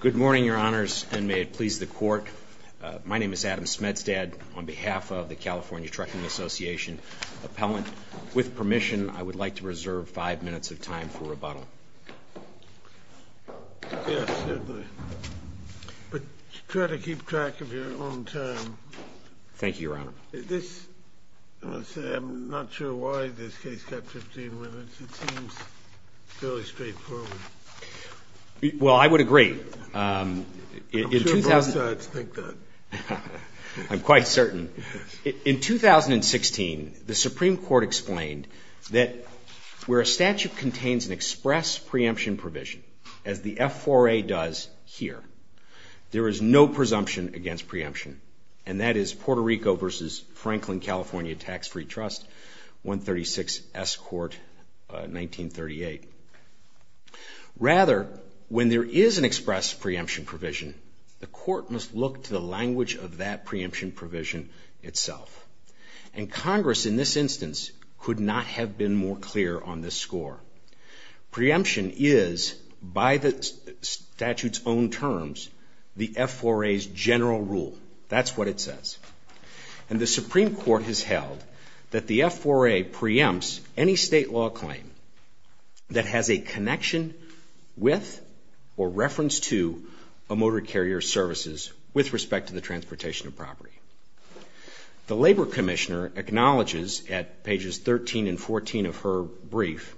Good morning, Your Honors, and may it please the Court. My name is Adam Smedstad on behalf of the California Trucking Association Appellant. With permission, I would like to reserve five minutes of time for rebuttal. Yes, certainly. But try to keep track of your own time. Thank you, Your Honor. I'm not sure why this case got 15 minutes. It seems fairly straightforward. Well, I would agree. I'm sure both sides think that. I'm quite certain. In 2016, the Supreme Court explained that where a statute contains an express preemption provision, as the F4A does here, there is no presumption against preemption. And that is Puerto Rico v. Franklin, California Tax-Free Trust, 136 S. Court, 1938. Rather, when there is an express preemption provision, the Court must look to the language of that preemption provision itself. And Congress, in this instance, could not have been more clear on this score. Preemption is, by the statute's own terms, the F4A's general rule. That's what it says. And the Supreme Court has held that the F4A preempts any state law claim that has a connection with or reference to a motor carrier's services with respect to the transportation of property. The Labor Commissioner acknowledges at pages 13 and 14 of her brief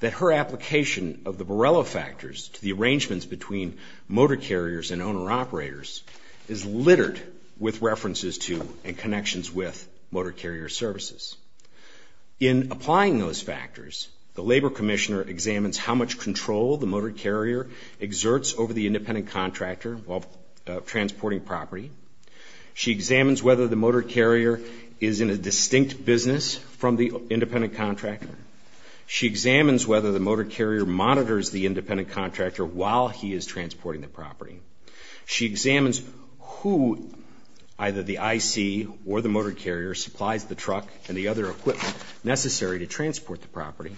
that her application of the Borrello factors to the arrangements between motor carriers and owner-operators is littered with references to and connections with motor carrier services. In applying those factors, the Labor Commissioner examines how much control the motor carrier exerts over the independent contractor of transporting property. She examines whether the motor carrier is in a distinct business from the independent contractor. She examines whether the motor carrier monitors the independent contractor while he is transporting the property. She examines who – either the IC or the motor carrier – supplies the truck and the other equipment necessary to transport the property.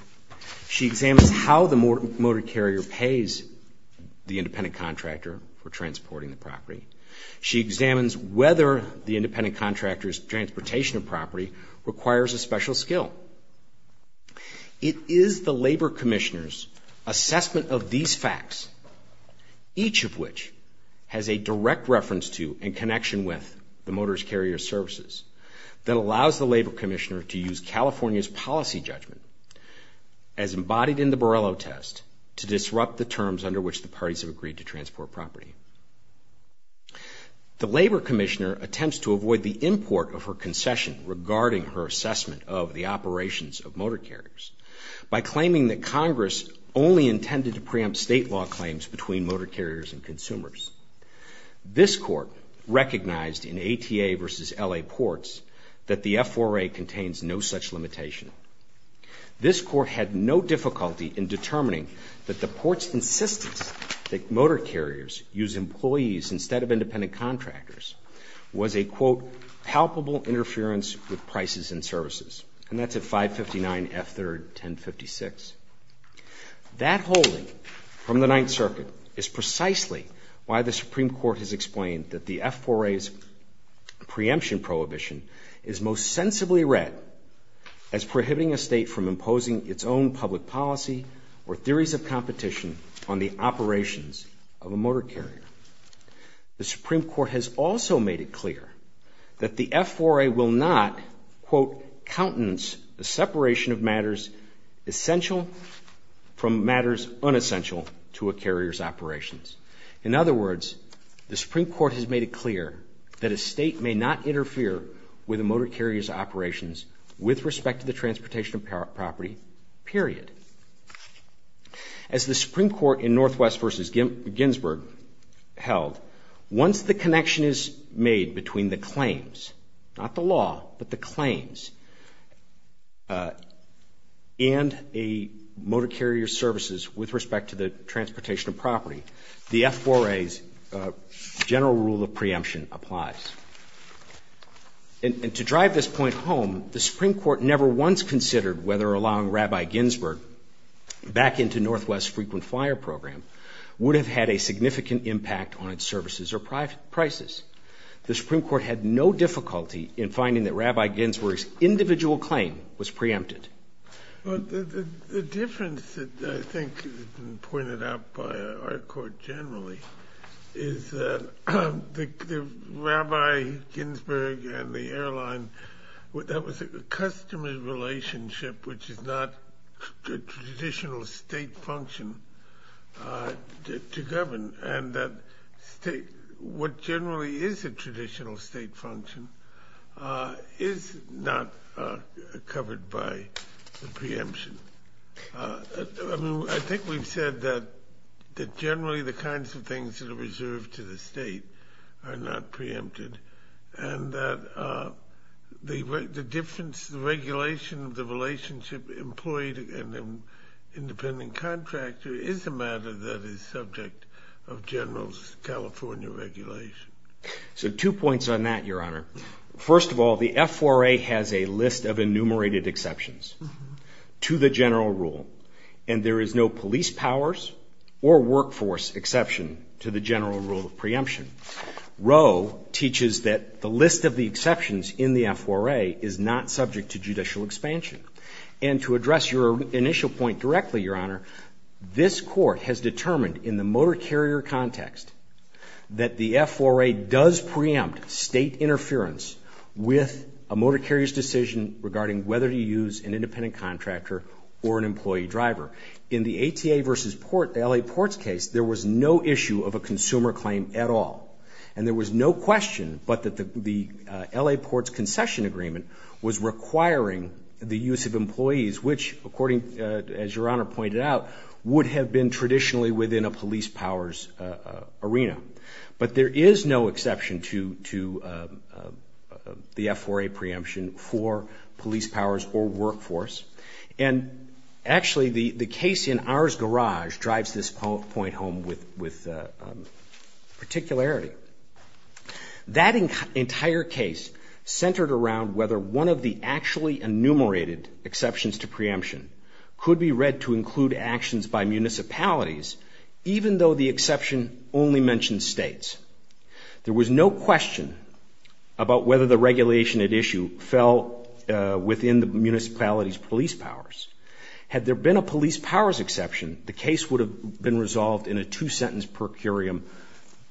She examines how the motor carrier pays the independent contractor for transporting the property. She examines whether the independent contractor's transportation of property requires a special skill. It is the Labor Commissioner's assessment of these facts, each of which has a direct reference to and connection with the motor carrier's services, that allows the Labor Commissioner to use California's policy judgment, as embodied in the Borrello test, to disrupt the terms under which the parties have agreed to transport property. The Labor Commissioner attempts to avoid the import of her concession regarding her assessment of the operations of motor carriers by claiming that Congress only intended to preempt state law claims between motor carriers and consumers. This Court recognized in ATA v. LA Ports that the F4A contains no such limitation. This Court had no difficulty in determining that the Ports' insistence that motor carriers use employees instead of independent contractors was a, quote, palpable interference with prices and services. And that's at 559 F3rd 1056. That holding from the Ninth Circuit is precisely why the Supreme Court has explained that the F4A's preemption prohibition is most sensibly read as prohibiting a state from imposing its own public policy or theories of competition on the operations of a motor carrier. The Supreme Court has also made it clear that the F4A will not, quote, countenance the separation of matters essential from matters unessential to a carrier's operations. In other words, the Supreme Court has made it clear that a state may not interfere with a motor carrier's operations with respect to the transportation of property, period. As the Supreme Court in Northwest v. Ginsburg held, once the connection is made between the claims, not the law, but the claims, and a motor carrier's services with respect to the transportation of property, the F4A's general rule of preemption applies. And to drive this point home, the Supreme Court never once considered whether allowing Rabbi Ginsburg back into Northwest's frequent fire program would have had a significant impact on its services or prices. The Supreme Court had no difficulty in finding that Rabbi Ginsburg's individual claim was preempted. The difference that I think has been pointed out by our court generally is that Rabbi Ginsburg and the airline, that was a customer relationship which is not a traditional state function to govern. And that what generally is a traditional state function is not covered by the preemption. I think we've said that generally the kinds of things that are reserved to the state are not preempted. And that the difference, the regulation of the relationship employed in an independent contractor is a matter that is subject of General's California regulation. So two points on that, Your Honor. First of all, the F4A has a list of enumerated exceptions to the general rule. And there is no police powers or workforce exception to the general rule of preemption. Roe teaches that the list of the exceptions in the F4A is not subject to judicial expansion. And to address your initial point directly, Your Honor, this court has determined in the motor carrier context that the F4A does preempt state interference with a motor carrier's decision regarding whether to use an independent contractor or an employee driver. In the ATA v. Port, the L.A. Ports case, there was no issue of a consumer claim at all. And there was no question but that the L.A. Ports concession agreement was requiring the use of employees, which according, as Your Honor pointed out, would have been traditionally within a police powers arena. But there is no exception to the F4A preemption for police powers or workforce. And actually, the case in ours garage drives this point home with particularity. That entire case centered around whether one of the actually enumerated exceptions to preemption could be read to include actions by municipalities, even though the exception only mentioned states. There was no question about whether the regulation at issue fell within the municipality's police powers. Had there been a police powers exception, the case would have been resolved in a two-sentence per curiam.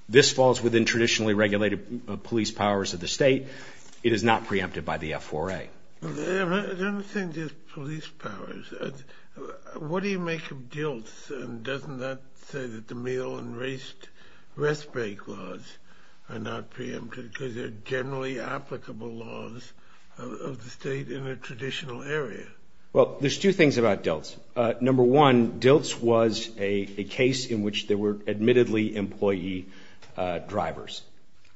This falls within traditionally regulated police powers of the state. It is not preempted by the F4A. Your Honor, I don't understand just police powers. What do you make of DILTS, and doesn't that say that the meal and rest break laws are not preempted because they're generally applicable laws of the state in a traditional area? Well, there's two things about DILTS. Number one, DILTS was a case in which there were admittedly employee drivers.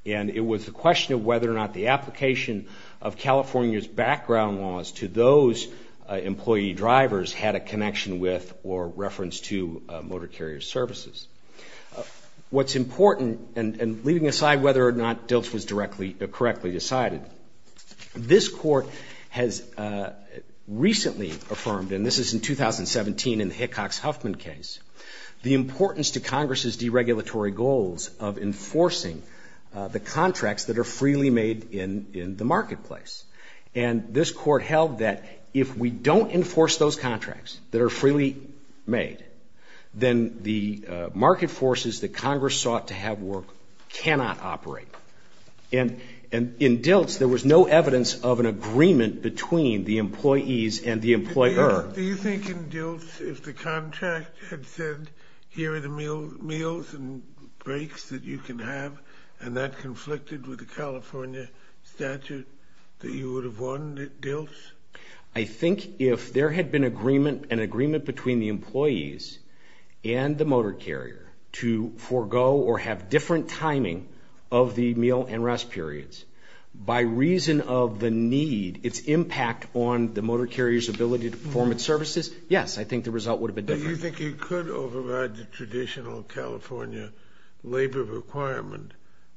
And it was a question of whether or not the application of California's background laws to those employee drivers had a connection with or reference to motor carrier services. What's important, and leaving aside whether or not DILTS was directly or correctly decided, this Court has recently affirmed, and this is in 2017 in the Hickox-Huffman case, the importance to Congress's deregulatory goals of enforcing the contracts that are freely made in the marketplace. And this Court held that if we don't enforce those contracts that are freely made, then the market forces that Congress sought to have work cannot operate. And in DILTS, there was no evidence of an agreement between the employees and the employer. Do you think in DILTS, if the contract had said, here are the meals and breaks that you can have, and that conflicted with the California statute, that you would have won DILTS? I think if there had been an agreement between the employees and the motor carrier to forego or have different timing of the meal and rest periods, by reason of the need, its impact on the motor carrier's ability to perform its services, yes, I think the result would have been different. Do you think you could override the traditional California labor requirement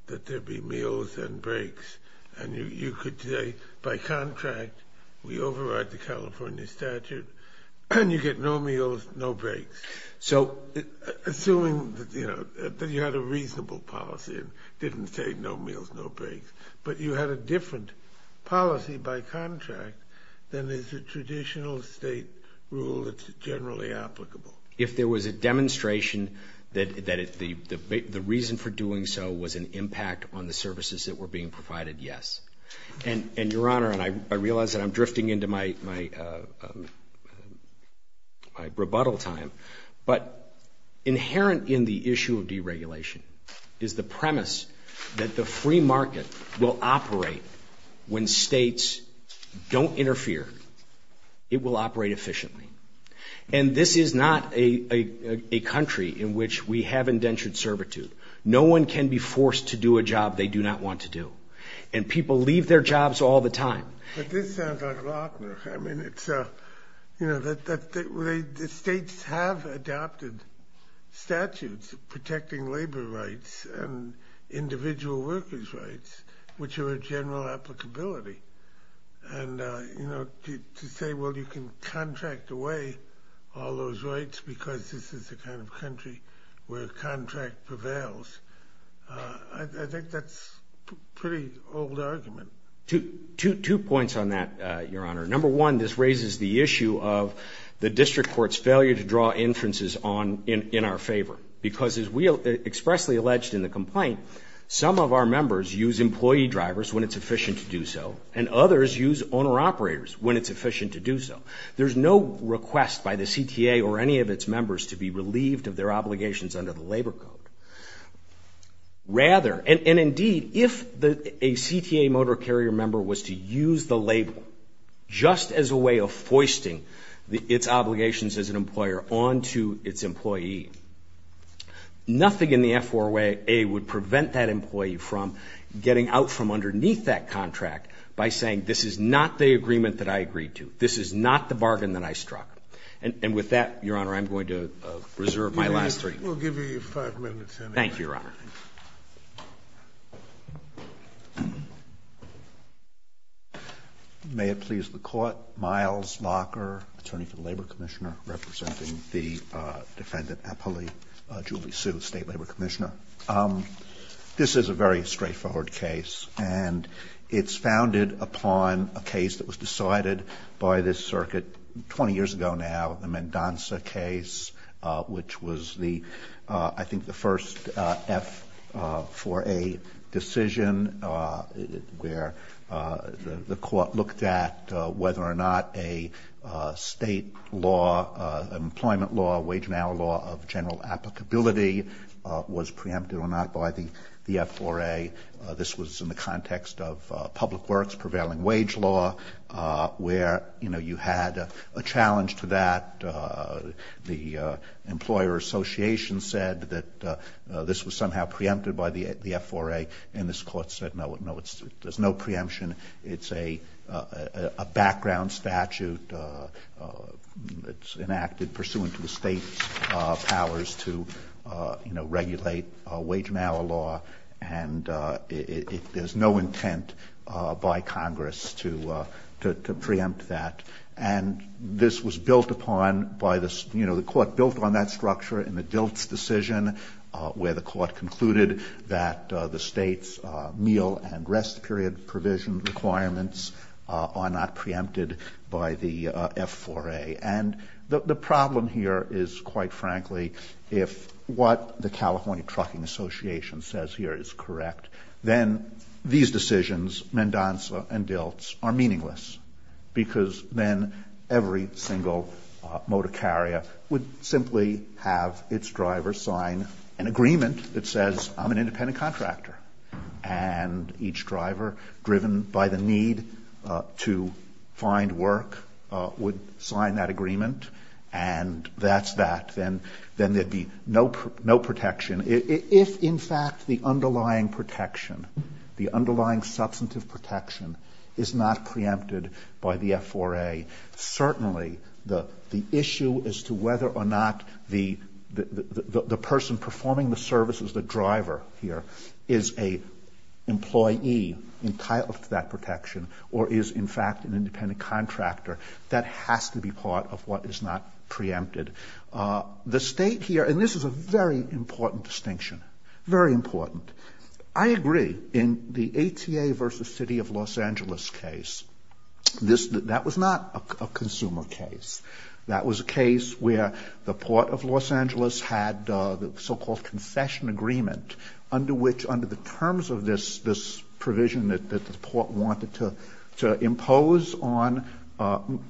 that there be meals and breaks, and you could say, by contract, we override the California statute, and you get no meals, no breaks? Assuming that you had a reasonable policy and didn't say no meals, no breaks. But you had a different policy by contract than is the traditional state rule that's generally applicable. If there was a demonstration that the reason for doing so was an impact on the services that were being provided, yes. And, Your Honor, and I realize that I'm drifting into my rebuttal time, but inherent in the issue of deregulation is the premise that the free market will operate when states don't interfere. It will operate efficiently. And this is not a country in which we have indentured servitude. No one can be forced to do a job they do not want to do. And people leave their jobs all the time. But this sounds like a lot of work. I mean, the states have adopted statutes protecting labor rights and individual workers' rights, which are a general applicability. And to say, well, you can contract away all those rights because this is the kind of country where contract prevails, I think that's a pretty old argument. Two points on that, Your Honor. Number one, this raises the issue of the district court's failure to draw inferences in our favor because, as we expressly alleged in the complaint, some of our members use employee drivers when it's efficient to do so and others use owner-operators when it's efficient to do so. There's no request by the CTA or any of its members to be relieved of their obligations under the Labor Code. Rather, and indeed, if a CTA motor carrier member was to use the label just as a way of foisting its obligations as an employer onto its employee, nothing in the F4A would prevent that employee from getting out from underneath that contract by saying this is not the agreement that I agreed to, this is not the bargain that I struck. And with that, Your Honor, I'm going to reserve my last three minutes. We'll give you five minutes. Thank you, Your Honor. Roberts. May it please the Court. Miles Locker, attorney for the Labor Commissioner, representing the Defendant Apolli Julie Sue, State Labor Commissioner. This is a very straightforward case and it's founded upon a case that was decided by this circuit 20 years ago now, the Mendonca case, which was the, I think, the first F4A decision where the Court looked at whether or not a State law, employment law, wage and hour law of general applicability was preempted or not by the F4A. This was in the context of public works, prevailing wage law, where, you know, you had a challenge to that. The Employer Association said that this was somehow preempted by the F4A, and this Court said, no, there's no preemption. It's a background statute that's enacted pursuant to the State's powers to, you know, regulate wage and hour law. And there's no intent by Congress to preempt that. And this was built upon by the, you know, the Court built on that structure in the Dilts decision where the Court concluded that the State's meal and rest period provision requirements are not preempted by the F4A. And the problem here is, quite frankly, if what the California Trucking Association says here is correct, then these decisions, Mendonca and Dilts, are meaningless, because then every single motor carrier would simply have its driver sign an agreement that says, I'm an independent contractor. And each driver, driven by the need to find work, would sign that agreement. And that's that. Then there would be no protection. If, in fact, the underlying protection, the underlying substantive protection, is not preempted by the F4A, certainly the issue as to whether or not the person performing the service as the driver here is an employee entitled to that protection or is, in fact, an independent contractor, that has to be part of what is not preempted. The State here, and this is a very important distinction, very important. I agree. In the ATA v. City of Los Angeles case, that was not a consumer case. That was a case where the Port of Los Angeles had the so-called concession agreement under which, under the terms of this provision that the Port wanted to impose on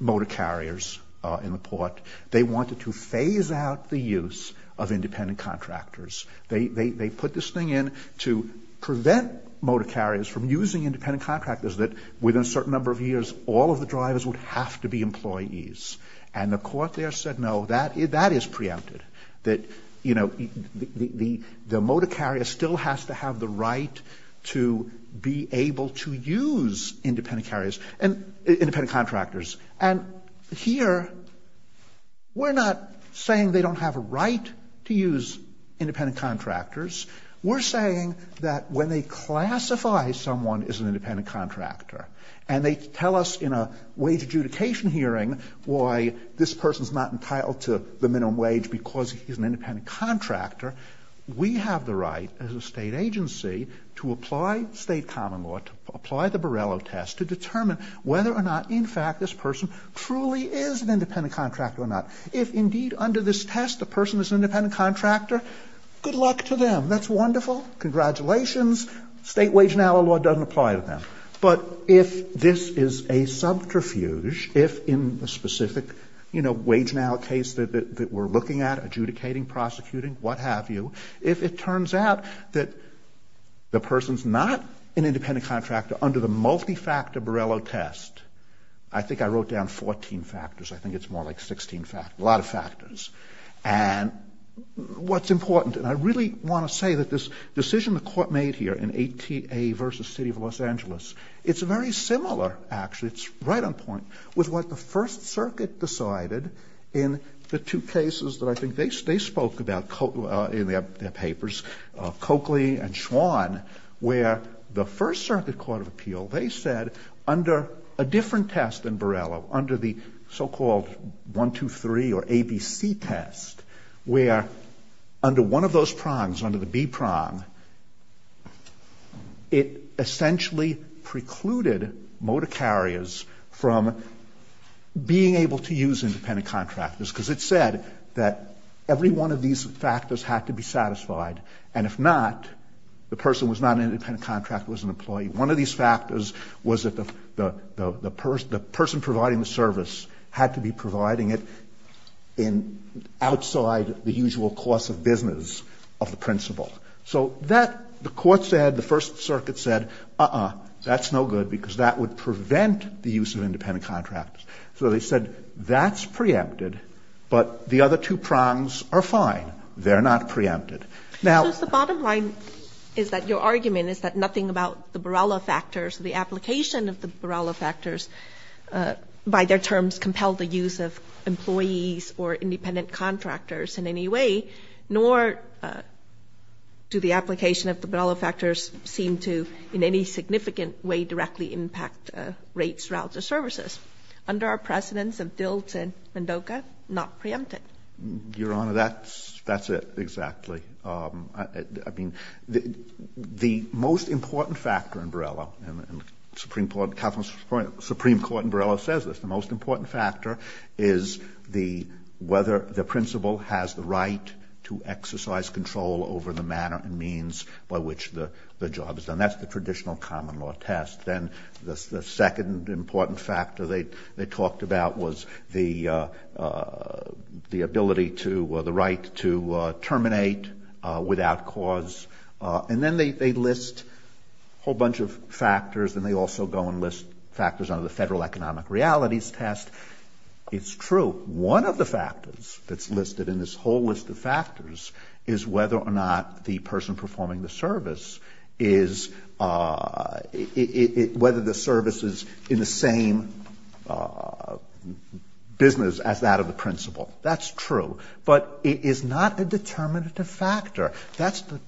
motor carriers in the Port, they wanted to phase out the use of independent contractors. They put this thing in to prevent motor carriers from using independent contractors that, within a certain number of years, all of the drivers would have to be employees. And the Court there said, no, that is preempted. That, you know, the motor carrier still has to have the right to be able to use independent carriers and independent contractors. And here we're not saying they don't have a right to use independent contractors. We're saying that when they classify someone as an independent contractor and they tell us in a wage adjudication hearing why this person is not entitled to the minimum wage because he's an independent contractor, we have the right as a State agency to apply State common law, to apply the Borrello test to determine whether or not, in fact, this person truly is an independent contractor or not. If, indeed, under this test the person is an independent contractor, good luck to them. That's wonderful. Congratulations. State wage and hour law doesn't apply to them. But if this is a subterfuge, if in the specific, you know, wage and hour case that we're looking at, adjudicating, prosecuting, what have you, if it turns out that the person is not an independent contractor under the multi-factor Borrello test, I think I wrote down 14 factors. I think it's more like 16 factors, a lot of factors. And what's important, and I really want to say that this decision the Court made here in ATA v. City of Los Angeles, it's very similar, actually, it's right on point, with what the First Circuit decided in the two cases that I think they spoke about in their papers, Coakley and Schwann, where the First Circuit Court of Appeal, they said under a different test than Borrello, under the so-called 123 or ABC test, where under one of those prongs, under the B prong, it essentially precluded motor carriers from being able to use independent contractors, because it said that every one of these factors had to be satisfied, and if not, the person was not an independent contractor, was an employee. One of these factors was that the person providing the service had to be providing it in, outside the usual course of business of the principal. So that, the Court said, the First Circuit said, uh-uh, that's no good, because that would prevent the use of independent contractors. So they said that's preempted, but the other two prongs are fine, they're not preempted. Now the bottom line is that your argument is that nothing about the Borrello factors, the application of the Borrello factors by their terms compelled the use of employees or independent contractors in any way, nor do the application of the Borrello factors seem to, in any significant way, directly impact rates, routes, or services. Under our precedents of DILT and MDOCA, not preempted. Verrilli, Your Honor, that's it, exactly. I mean, the most important factor in Borrello, and the Supreme Court, the California Supreme Court, is the, whether the principal has the right to exercise control over the manner and means by which the job is done. That's the traditional common law test. Then the second important factor they talked about was the ability to, the right to terminate without cause, and then they list a whole bunch of factors, and they also go and list factors under the Federal Economic Realities Test. It's true. One of the factors that's listed in this whole list of factors is whether or not the person performing the service is, whether the service is in the same business as that of the principal. That's true. But it is not a determinative factor. That's the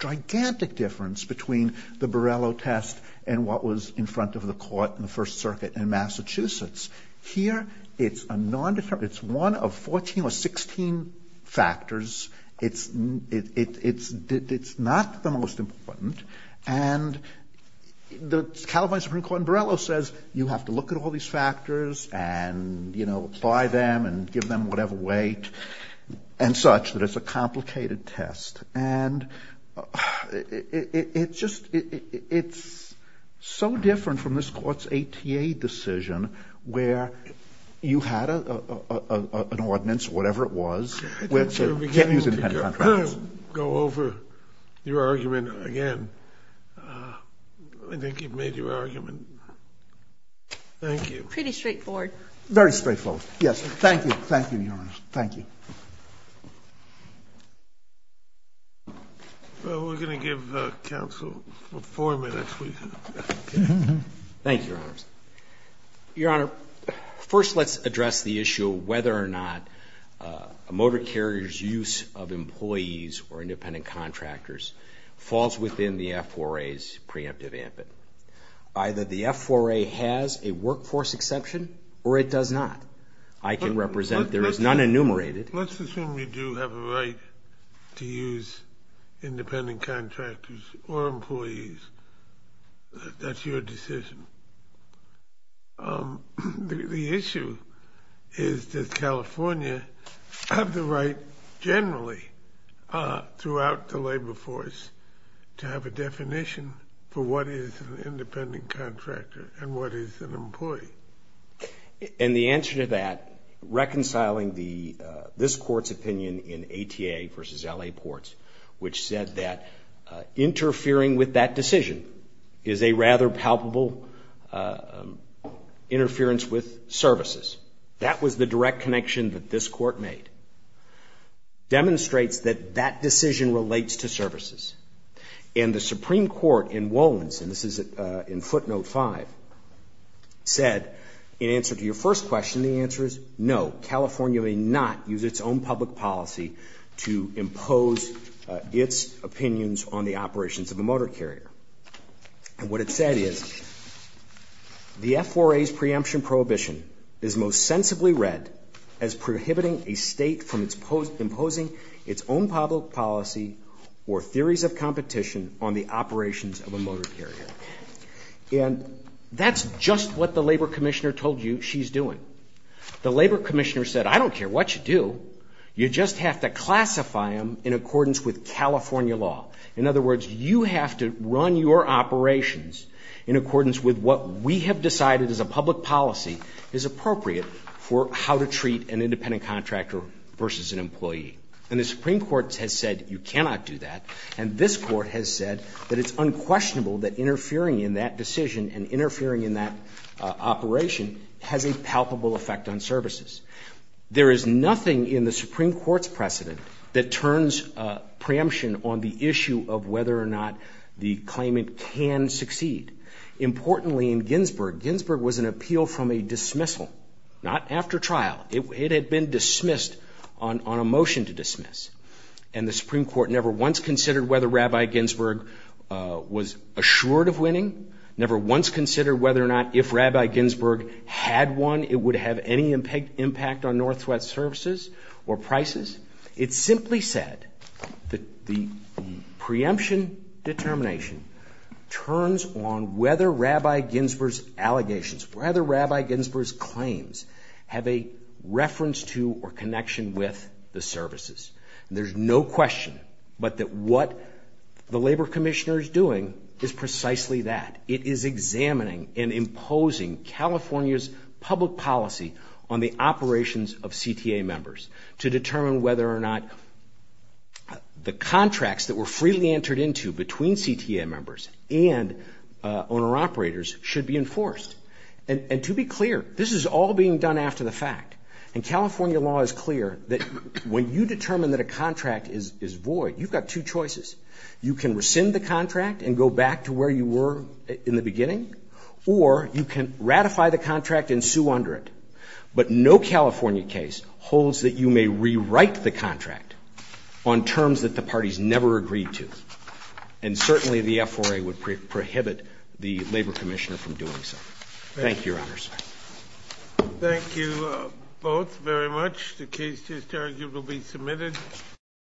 gigantic difference between the Borrello test and what was in front of the court in the First Circuit in Massachusetts. Here, it's a non-determinative, it's one of 14 or 16 factors. It's not the most important, and the California Supreme Court in Borrello says you have to look at all these factors and, you know, apply them and give them whatever weight, and such, that it's a complicated test. And it's just, it's so different from this court's ATA decision where you had an ordinance, whatever it was, with, you can't use independent contracts. I think you're beginning to go over your argument again. I think you've made your argument. Thank you. Pretty straightforward. Very straightforward. Yes. Thank you. Thank you, Your Honor. Thank you. Well, we're going to give the counsel four minutes, please. Thank you, Your Honors. Your Honor, first let's address the issue of whether or not a motor carrier's use of employees or independent contractors falls within the F4A's preemptive ambit. Either the F4A has a workforce exception, or it does not. I can represent, there is none enumerated. Let's assume you do have a right to use independent contractors or employees. That's your decision. The issue is, does California have the right, generally, throughout the labor force, to have a definition for what is an independent contractor and what is an employee? And the answer to that, reconciling this court's opinion in ATA versus LA Ports, which said that interfering with that decision is a rather palpable interference with services. That was the direct connection that this court made. And the Supreme Court in Wolins, and this is in footnote five, said, in answer to your first question, the answer is no. California may not use its own public policy to impose its opinions on the operations of a motor carrier. And what it said is, the F4A's preemption prohibition is most sensibly read as a competition on the operations of a motor carrier. And that's just what the labor commissioner told you she's doing. The labor commissioner said, I don't care what you do. You just have to classify them in accordance with California law. In other words, you have to run your operations in accordance with what we have decided as a public policy is appropriate for how to treat an independent contractor versus an employee. And the Supreme Court has said, you cannot do that. And this court has said that it's unquestionable that interfering in that decision and interfering in that operation has a palpable effect on services. There is nothing in the Supreme Court's precedent that turns preemption on the issue of whether or not the claimant can succeed. Importantly, in Ginsburg, Ginsburg was an appeal from a dismissal, not after trial. It had been dismissed on a motion to dismiss. And the Supreme Court never once considered whether Rabbi Ginsburg was assured of winning, never once considered whether or not if Rabbi Ginsburg had won, it would have any impact on Northwest services or prices. It simply said that the preemption determination turns on whether Rabbi Ginsburg's allegations, whether Rabbi Ginsburg's claims have a reference to or connection with the services. There's no question but that what the Labor Commissioner is doing is precisely that. It is examining and imposing California's public policy on the operations of CTA members to determine whether or not the contracts that were freely entered into between CTA members and owner-operators should be enforced. And to be clear, this is all being done after the fact. And California law is clear that when you determine that a contract is void, you've got two choices. You can rescind the contract and go back to where you were in the beginning, or you can ratify the contract and sue under it. But no California case holds that you may rewrite the contract on terms that the parties never agreed to. And certainly, the FRA would prohibit the Labor Commissioner from doing so. Thank you, Your Honors. Thank you both very much. The case is, I argue, will be submitted.